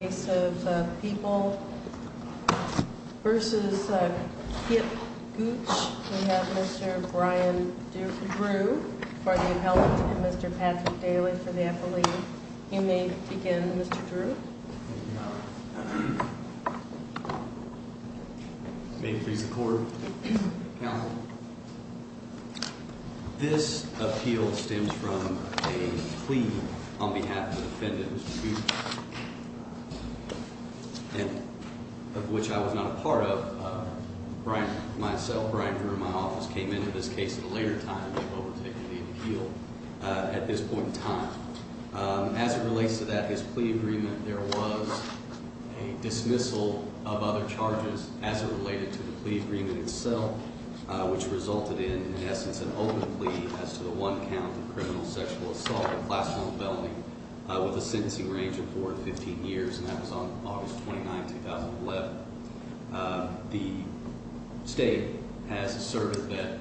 In the case of People v. Kip Gooch, we have Mr. Brian Drew for the appellate and Mr. Patrick Daly for the affiliate. You may begin, Mr. Drew. May it please the Court. Counsel. This appeal stems from a plea on behalf of the defendant, Mr. Gooch, of which I was not a part of. Myself, Brian Drew, and my office came into this case at a later time than what was taken in the appeal at this point in time. As it relates to that, his plea agreement, there was a dismissal of other charges as it related to the plea agreement itself. Which resulted in, in essence, an open plea as to the one count of criminal sexual assault, a class 1 felony, with a sentencing range of 4 to 15 years. And that was on August 29, 2011. The State has asserted that,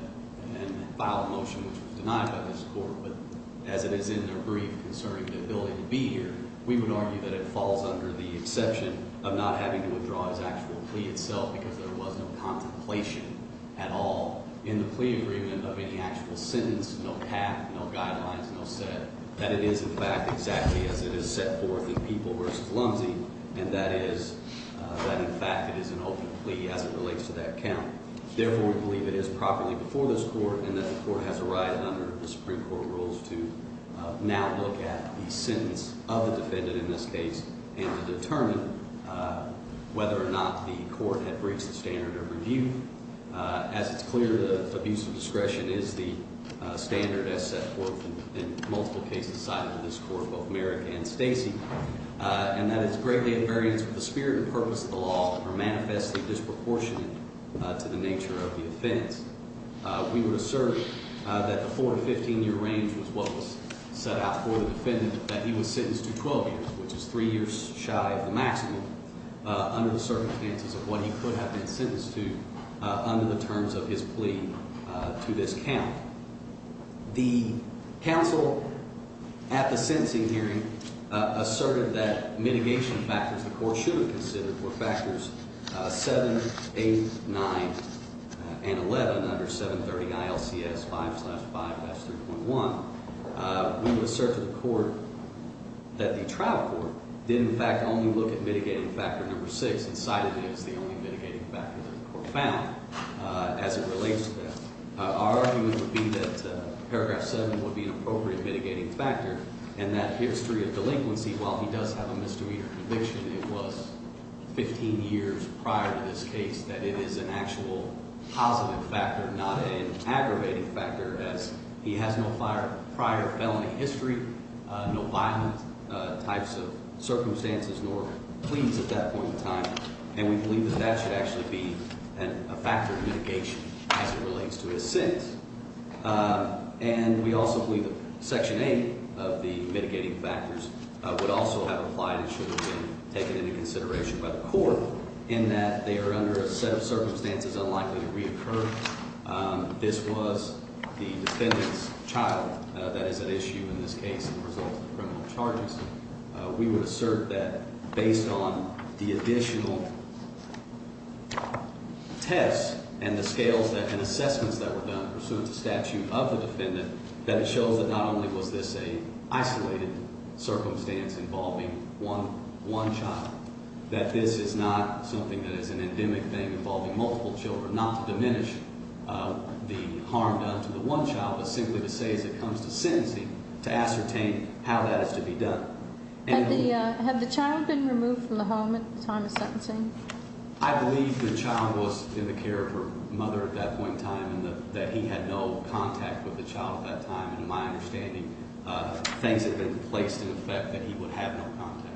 and filed a motion which was denied by this Court, but as it is in their brief concerning the ability to be here, we would argue that it falls under the exception of not having to withdraw his actual plea itself because there was no contemplation at all in the plea agreement of any actual sentence. No path, no guidelines, no set. That it is, in fact, exactly as it is set forth in People v. Lumsey. And that is, that in fact it is an open plea as it relates to that count. Therefore, we believe it is properly before this Court and that the Court has a right under the Supreme Court rules to now look at the sentence of the defendant in this case. And to determine whether or not the Court had breached the standard of review. As it's clear, the abuse of discretion is the standard as set forth in multiple cases cited in this Court, both Merrick and Stacy. And that is greatly in variance with the spirit and purpose of the law are manifestly disproportionate to the nature of the offense. We would assert that the four to 15 year range was what was set out for the defendant that he was sentenced to 12 years, which is three years shy of the maximum, under the circumstances of what he could have been sentenced to under the terms of his plea to this count. The counsel at the sentencing hearing asserted that mitigation factors the court should have considered were factors 7, 8, 9, and 11 under 730 ILCS 5 slash 5 S3.1. We would assert to the court that the trial court did, in fact, only look at mitigating factor number 6 and cited it as the only mitigating factor that the court found as it relates to that. Our argument would be that paragraph 7 would be an appropriate mitigating factor. And that history of delinquency, while he does have a misdemeanor conviction, it was 15 years prior to this case that it is an actual positive factor, not an aggravating factor as he has no prior felony history, no violent types of circumstances, nor pleas at that point in time. And we believe that that should actually be a factor of mitigation as it relates to his sentence. And we also believe that section 8 of the mitigating factors would also have applied and should have been taken into consideration by the court in that they are under a set of circumstances unlikely to reoccur. This was the defendant's child that is at issue in this case as a result of the criminal charges. We would assert that based on the additional tests and the scales and assessments that were done pursuant to statute of the defendant, that it shows that not only was this a isolated circumstance involving one child, that this is not something that is an endemic thing involving multiple children. Not to diminish the harm done to the one child, but simply to say as it comes to sentencing, to ascertain how that is to be done. Had the child been removed from the home at the time of sentencing? I believe the child was in the care of her mother at that point in time and that he had no contact with the child at that time. And my understanding, things had been placed in effect that he would have no contact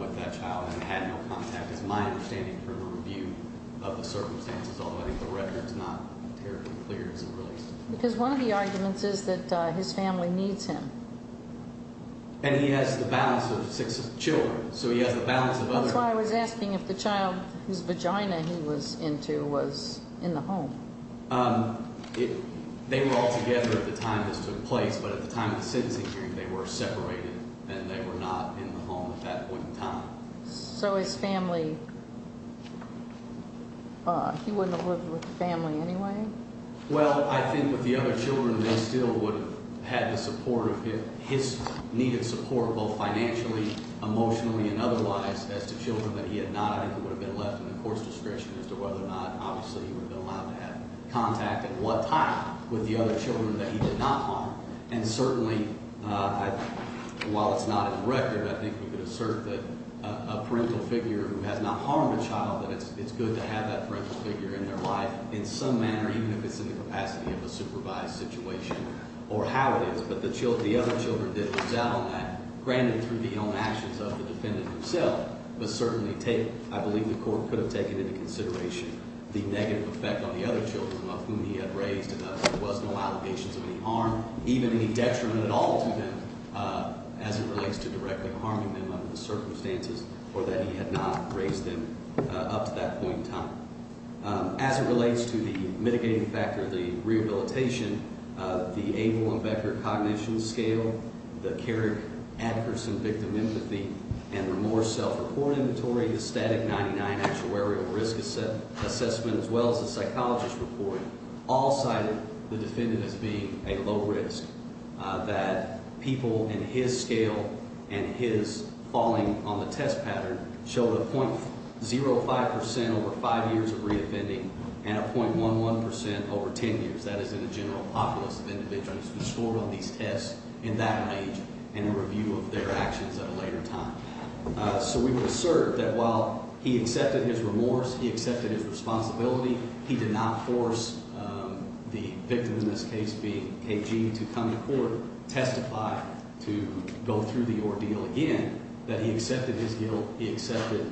with that child and had no contact. It's my understanding from a review of the circumstances already, the record's not terribly clear as of release. Because one of the arguments is that his family needs him. And he has the balance of six children, so he has the balance of others. That's why I was asking if the child whose vagina he was into was in the home. They were all together at the time this took place, but at the time of the sentencing hearing, they were separated and they were not in the home at that point in time. So his family, he wouldn't have lived with the family anyway? Well, I think with the other children, they still would have had the support of him. His needed support, both financially, emotionally, and otherwise, as to children that he had not. I think it would have been left in the court's discretion as to whether or not, obviously, he would have been allowed to have contact at what time with the other children that he did not harm. And certainly, while it's not in the record, I think we could assert that a parental figure who has not harmed a child, that it's good to have that parental figure in their life in some manner, even if it's in the capacity of a supervised situation or how it is. But the other children did lose out on that, granted through the own actions of the defendant himself, but certainly I believe the court could have taken into consideration the negative effect on the other children of whom he had raised and there was no allegations of any harm, even any detriment at all to them as it relates to directly harming them under the circumstances or that he had not raised them up to that point in time. As it relates to the mitigating factor, the rehabilitation, the Abel and Becker Cognition Scale, the Carrick-Atkerson Victim Empathy and Remorse Self-Report Inventory, the Static 99 Actuarial Risk Assessment, as well as the psychologist report, all cited the defendant as being a low risk, that people in his scale and his falling on the test pattern showed a 0.05% over five years of reoffending and a 0.11% over ten years. That is in the general populace of individuals who scored on these tests in that range and a review of their actions at a later time. So we would assert that while he accepted his remorse, he accepted his responsibility, he did not force the victim in this case being KG to come to court, testify to go through the ordeal again, that he accepted his guilt, he accepted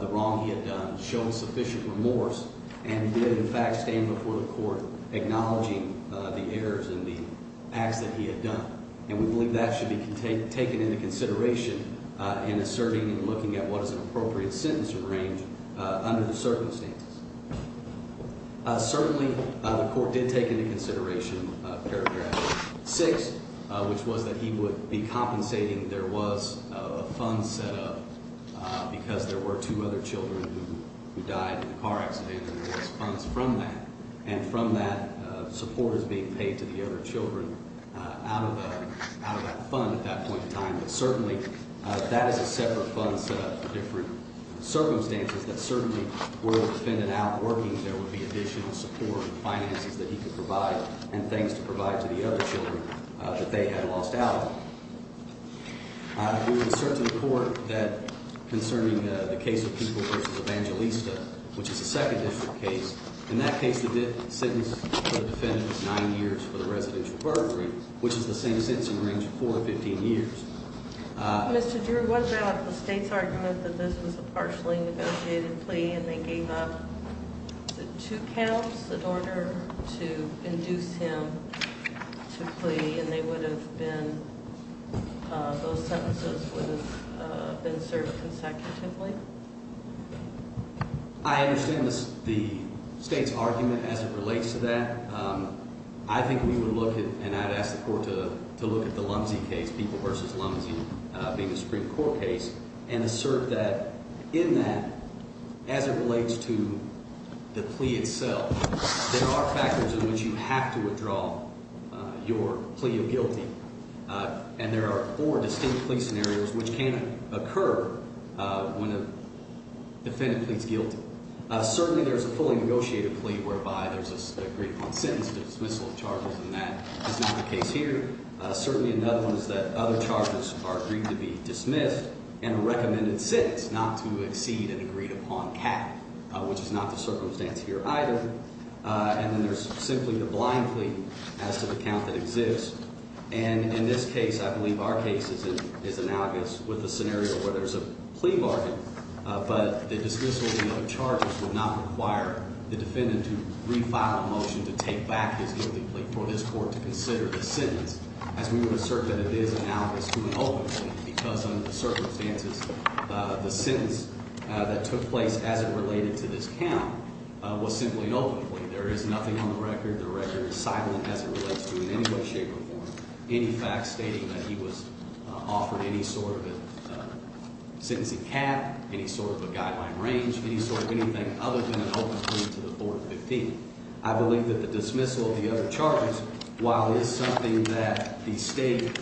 the wrong he had done, showed sufficient remorse and did in fact stand before the court acknowledging the errors in the acts that he had done. And we believe that should be taken into consideration in asserting and looking at what is an appropriate sentence in range under the circumstances. Certainly the court did take into consideration paragraph 6, which was that he would be compensating there was a fund set up because there were two other children who died in a car accident and there was funds from that and from that support is being paid to the other children out of that fund at that point in time. But certainly that is a separate fund set up for different circumstances that certainly were the defendant out working there would be additional support and finances that he could provide and things to provide to the other children that they had lost out on. We would assert to the court that concerning the case of Peoples v. Evangelista, which is a second district case, in that case the sentence for the defendant was nine years for the residential burglary, which is the same sentencing range for 15 years. Mr. Drew, what about the state's argument that this was a partially negotiated plea and they gave up two counts in order to induce him to plea and they would have been, those sentences would have been served consecutively? I understand the state's argument as it relates to that. I think we would look at, and I'd ask the court to look at the Lumsey case, Peoples v. Lumsey being a Supreme Court case, and assert that in that as it relates to the plea itself, there are factors in which you have to withdraw your plea of guilty and there are four distinct plea scenarios which can occur when a defendant pleads guilty. Certainly there's a fully negotiated plea whereby there's an agreement on sentence, a dismissal of charges, and that is not the case here. Certainly another one is that other charges are agreed to be dismissed and a recommended sentence not to exceed an agreed upon cap, which is not the circumstance here either. And then there's simply the blind plea as to the count that exists. And in this case, I believe our case is analogous with the scenario where there's a plea bargain, but the dismissal of the other charges would not require the defendant to refile a motion to take back his guilty plea for his court to consider the sentence, as we would assert that it is analogous to an open plea because under the circumstances, the sentence that took place as it related to this count was simply an open plea. There is nothing on the record. The record is silent as it relates to it in any way, shape, or form. Any facts stating that he was offered any sort of a sentencing cap, any sort of a guideline range, any sort of anything other than an open plea to the Board of 15. I believe that the dismissal of the other charges, while it is something that the State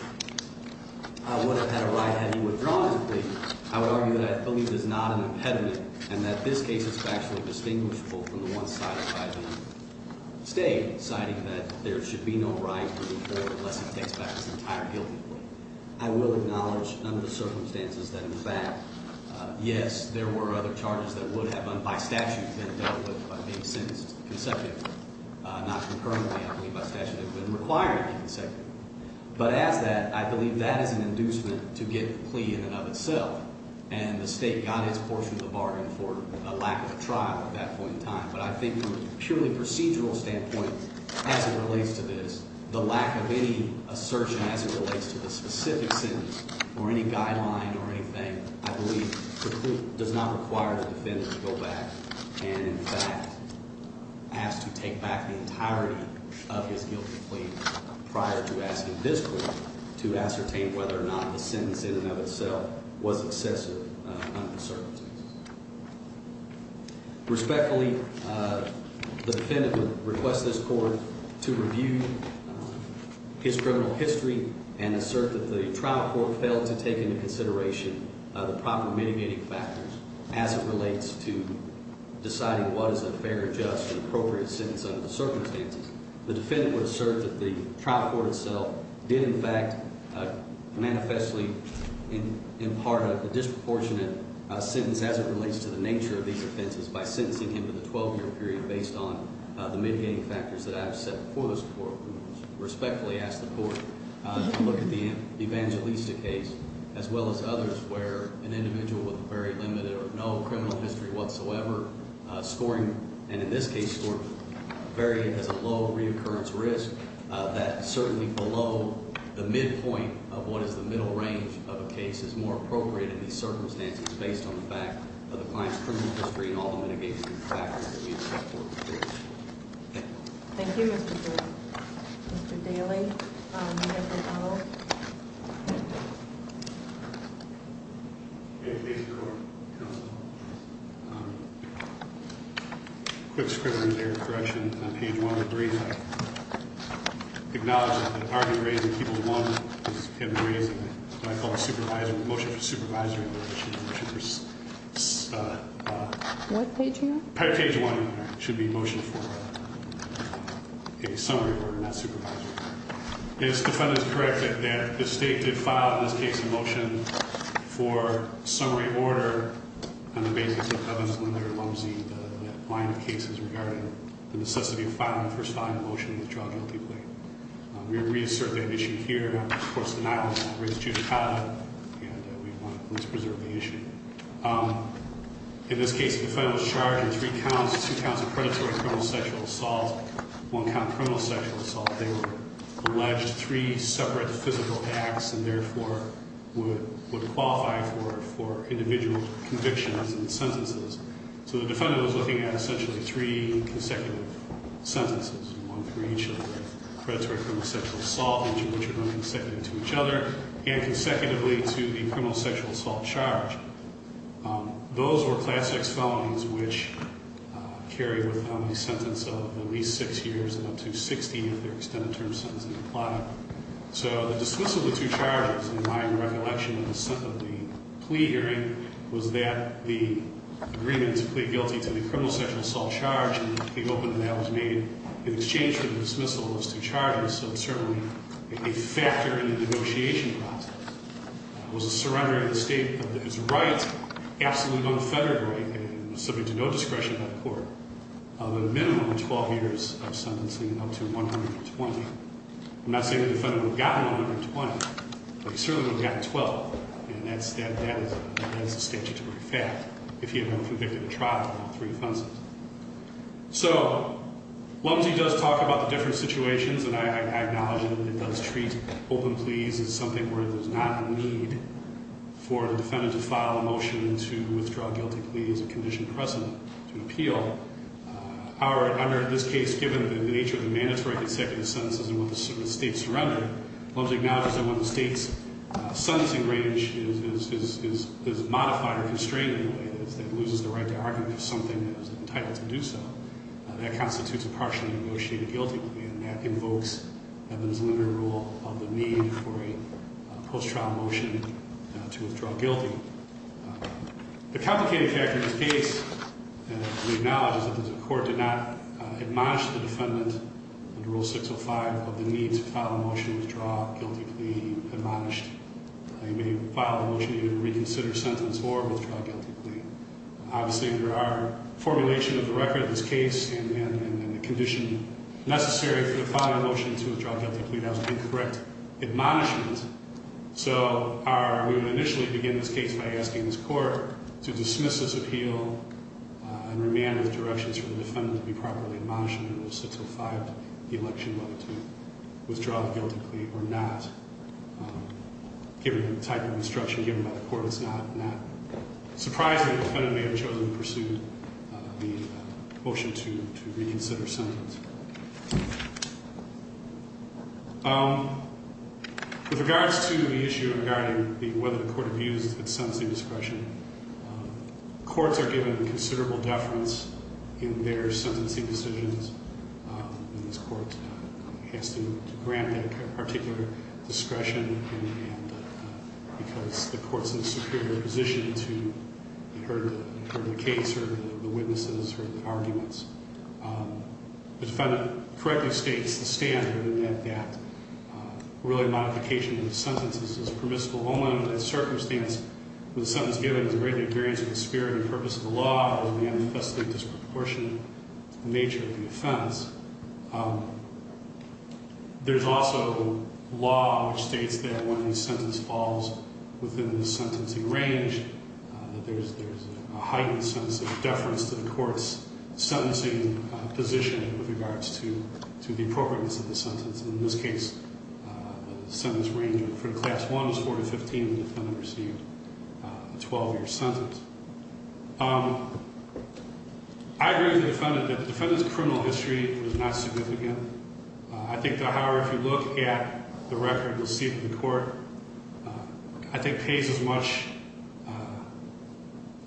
would have had a right had he withdrawn his plea, I would argue that I believe it is not an impediment and that this case is factually distinguishable from the one cited by the State, citing that there should be no right for the Board unless it takes back its entire guilty plea. I will acknowledge under the circumstances that in fact, yes, there were other charges that would have, by statute, been dealt with by being sentenced consecutively. Not concurrently, I believe by statute, it would have been required to be consecutively. But as that, I believe that is an inducement to get the plea in and of itself, and the State got its portion of the bargain for a lack of a trial at that point in time. But I think from a purely procedural standpoint, as it relates to this, the lack of any assertion as it relates to the specific sentence or any guideline or anything, I believe the plea does not require the defendant to go back and in fact ask to take back the entirety of his guilty plea prior to asking this court to ascertain whether or not the sentence in and of itself was excessive under the circumstances. Respectfully, the defendant would request this court to review his criminal history and assert that the trial court failed to take into consideration the proper mitigating factors as it relates to deciding what is a fair, just, and appropriate sentence under the circumstances. The defendant would assert that the trial court itself did in fact manifestly impart a disproportionate sentence as it relates to the nature of these offenses by sentencing him to the 12-year period based on the mitigating factors that I have set before this court. I respectfully ask the court to look at the evangelistic case as well as others where an individual with very limited or no criminal history whatsoever scoring, and in this case scoring very as a low reoccurrence risk, that certainly below the midpoint of what is the middle range of a case is more appropriate in these circumstances based on the fact of the client's criminal history and all the mitigating factors that we have set before this court. Thank you. Thank you, Mr. Gould. Mr. Daly, you have the floor. Thank you, Mr. Court. Counsel. Quick scribble in there, correction, on page 103. I acknowledge that the argument raised in people's moment is hidden reason, and I call the motion for supervisory in relation to the motion for... What page are you on? Page 1, it should be motion for a summary order, not supervisory. Is the defendant correct that the state did file in this case a motion for summary order on the basis of Evans, Linder, Lumsey, the line of cases regarding the necessity of filing the first line of motion in the child guilty plea? We reassert that issue here. Of course, denial of that raised too high, and we want to at least preserve the issue. In this case, the defendant was charged in three counts, two counts of predatory criminal sexual assault, one count of criminal sexual assault. They were alleged three separate physical acts, and therefore would qualify for individual convictions and sentences. So the defendant was looking at essentially three consecutive sentences, one for each of the predatory criminal sexual assault, each of which would run consecutive to each other, and consecutively to the criminal sexual assault charge. Those were class X felonies which carry with them a sentence of at least six years and up to 60 if they're extended term sentences apply. So the dismissal of the two charges, in my recollection of the plea hearing, was that the agreement to plead guilty to the criminal sexual assault charge, and the opening that was made in exchange for the dismissal of those two charges, so it's certainly a factor in the negotiation process, was a surrender to the state of its right, absolutely unfettered right, and subject to no discretion by the court, of a minimum of 12 years of sentencing, up to 120. I'm not saying the defendant would have gotten 120, but he certainly would have gotten 12, and that is a statutory fact if he had been convicted of a trial of three offenses. So, Lumsey does talk about the different situations, and I acknowledge that it does treat open pleas as something where there's not a need for the defendant to file a motion to withdraw a guilty plea as a conditioned precedent to appeal. However, in this case, given the nature of the mandatory consecutive sentences in which the state surrendered, Lumsey acknowledges that when the state's sentencing range is modified or constrained in a way that it loses the right to argue for something that is entitled to do so, that constitutes a partially negotiated guilty plea, and that invokes Evan's linear rule of the need for a post-trial motion to withdraw guilty. The complicated factor in this case, and we acknowledge, is that the court did not admonish the defendant under Rule 605 of the need to file a motion to withdraw a guilty plea admonished. He may file a motion to either reconsider a sentence or withdraw a guilty plea. Obviously, under our formulation of the record in this case, and in the condition necessary for the filing of a motion to withdraw a guilty plea, that was an incorrect admonishment. So we would initially begin this case by asking this court to dismiss this appeal and remand with directions for the defendant to be properly admonished under Rule 605 of the election whether to withdraw the guilty plea or not. Given the type of instruction given by the court, it's not surprising the defendant may have chosen to pursue the motion to reconsider a sentence. With regards to the issue regarding whether the court views its sentencing discretion, courts are given considerable deference in their sentencing decisions. This court has to grant that particular discretion because the court's in a superior position to heard the case, but the defendant correctly states the standard in that that really modification of the sentence is permissible only under the circumstance where the sentence given is a greatly invariant to the spirit and purpose of the law and the unforeseen disproportionate nature of the offense. There's also law which states that when a sentence falls within the sentencing range, that there's a heightened sense of deference to the court's sentencing position with regards to the appropriateness of the sentence. In this case, the sentence range from class 1 to 4 to 15, the defendant received a 12-year sentence. I agree with the defendant that the defendant's criminal history was not significant. I think, however, if you look at the record received in court, I think pays as much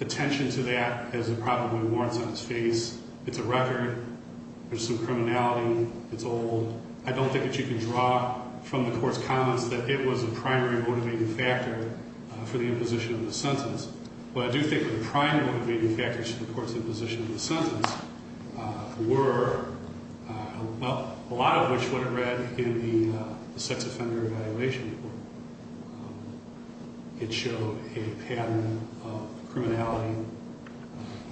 attention to that as it probably warrants on its face. It's a record. There's some criminality. It's old. I don't think that you can draw from the court's comments that it was a primary motivating factor for the imposition of the sentence. What I do think were the primary motivating factors to the court's imposition of the sentence were, well, a lot of which would have read in the sex offender evaluation report. It showed a pattern of criminality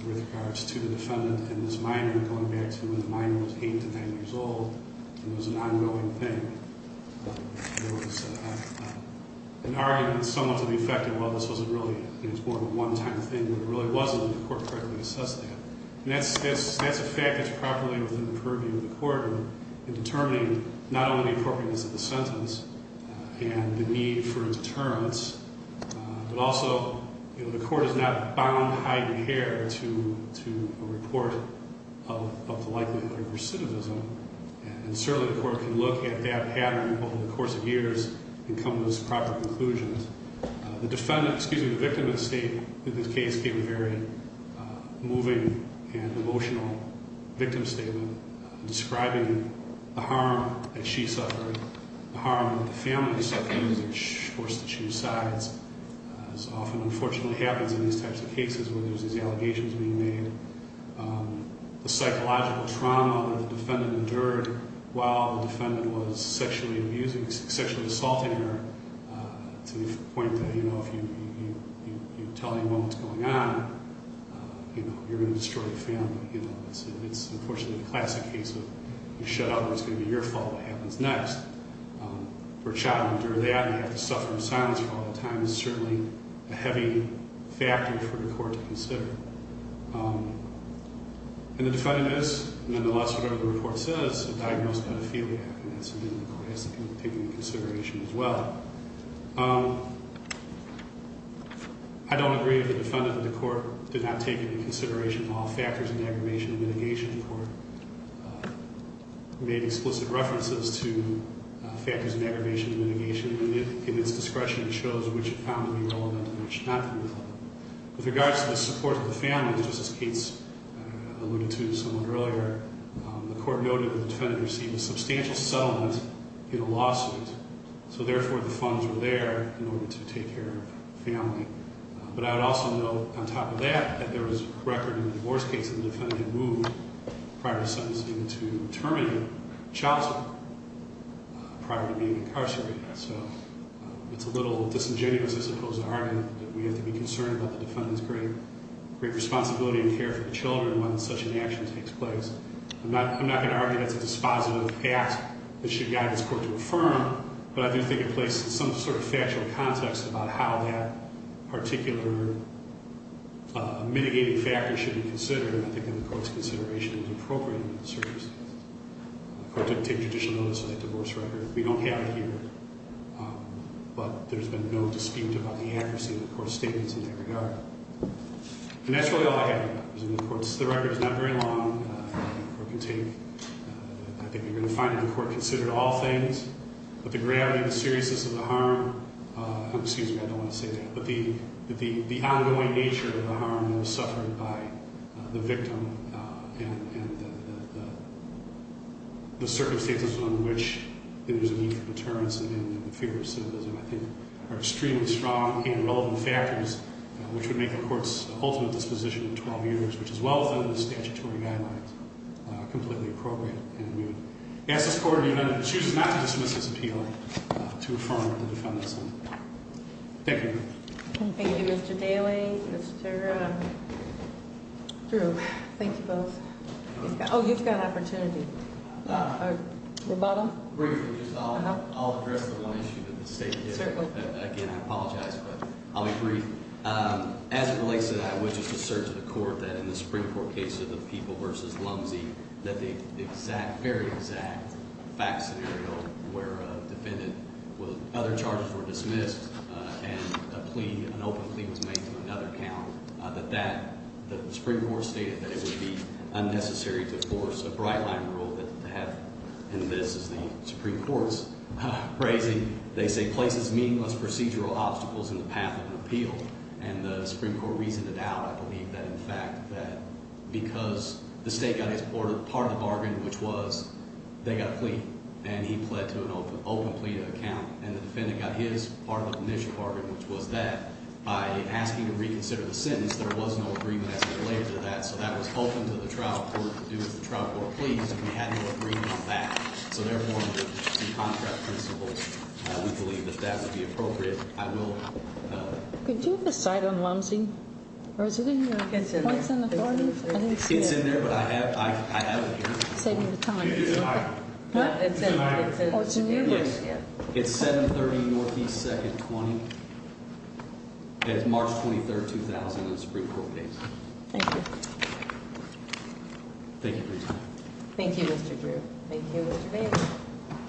with regards to the defendant and this minor going back to when the minor was 8 to 9 years old. It was an ongoing thing. There was an argument somewhat to the effect of, well, this wasn't really, it was more of a one-time thing. It really wasn't when the court correctly assessed that. And that's a fact that's properly within the purview of the court in determining not only the appropriateness of the sentence and the need for a deterrence, but also, you know, the court is not bound, hide, and care to a report of the likelihood of recidivism. And certainly the court can look at that pattern over the course of years and come to those proper conclusions. The defendant, excuse me, the victim in this case gave a very moving and emotional victim statement describing the harm that she suffered, the harm that the family suffered as they were forced to choose sides, as often unfortunately happens in these types of cases where there's these allegations being made. The psychological trauma that the defendant endured while the defendant was sexually abusing, sexually assaulting her to the point that, you know, if you tell anyone what's going on, you know, you're going to destroy the family. You know, it's unfortunately the classic case of you shut out and it's going to be your fault what happens next. For a child to endure that and have to suffer in silence for all that time is certainly a heavy factor for the court to consider. And the defendant is, nonetheless, whatever the report says, diagnosed with pedophilia. And that's something the court has to take into consideration as well. I don't agree with the defendant that the court did not take into consideration all factors in the Aggravation and Mitigation Court. It made explicit references to factors in Aggravation and Mitigation, and in its discretion it shows which it found to be relevant and which not relevant. With regards to the support of the family, just as Kate alluded to somewhat earlier, the court noted that the defendant received a substantial settlement in a lawsuit. So, therefore, the funds were there in order to take care of the family. But I would also note, on top of that, that there was record in the divorce case that the defendant had moved prior to sentencing to terminate the child support, prior to being incarcerated. So, it's a little disingenuous, I suppose, to argue that we have to be concerned about the defendant's great responsibility and care for the children when such an action takes place. I'm not going to argue that's a dispositive act that should guide this court to affirm, but I do think it places some sort of factual context about how that particular mitigating factor should be considered. And I think that the court's consideration is appropriate in that circumstance. The court didn't take judicial notice of that divorce record. We don't have it here, but there's been no dispute about the accuracy of the court's statements in that regard. And that's really all I have. The record is not very long. I think you're going to find that the court considered all things, but the gravity, the seriousness of the harm, excuse me, I don't want to say that, but the ongoing nature of the harm that was suffered by the victim and the circumstances under which there's a need for deterrence and the fear of symbolism, I think, are extremely strong and relevant factors which would make the court's ultimate disposition in 12 years, which is well within the statutory guidelines, completely appropriate and immune. I ask this court, even if it chooses not to dismiss this appeal, to affirm the defendant's harm. Thank you. Thank you, Mr. Daly, Mr. Drew. Thank you both. Oh, you've got an opportunity. Roboto? Briefly, just I'll address the one issue that the State did. Certainly. Again, I apologize, but I'll be brief. As it relates to that, I would just assert to the court that in the Supreme Court case of the People v. Lumsey, that the exact, very exact fact scenario where a defendant with other charges were dismissed and a plea, an open plea was made to another count, that the Supreme Court stated that it would be unnecessary to force a bright-line rule that they have in this, as the Supreme Court's raising. They say places meaningless procedural obstacles in the path of an appeal. And the Supreme Court reasoned it out, I believe, that in fact that because the State got his part of the bargain, which was they got a plea, and he pled to an open plea to a count, and the defendant got his part of the initial bargain, which was that, by asking to reconsider the sentence, there was no agreement as it relates to that. So that was open to the trial court to do as the trial court pleased, and we had no agreement on that. So therefore, under the contract principles, we believe that that would be appropriate. I will- Could you have a cite on Lumsey? Or is it in your- It's in there. I didn't see it. It's in there, but I have it here. Save me the time. It's in there. What? It's in there. Oh, it's in here? Yes. It's 730 Northeast 2nd 20. And it's March 23, 2000 in the Supreme Court case. Thank you. Thank you for your time. Thank you, Mr. Drew. Thank you, Mr. Daly.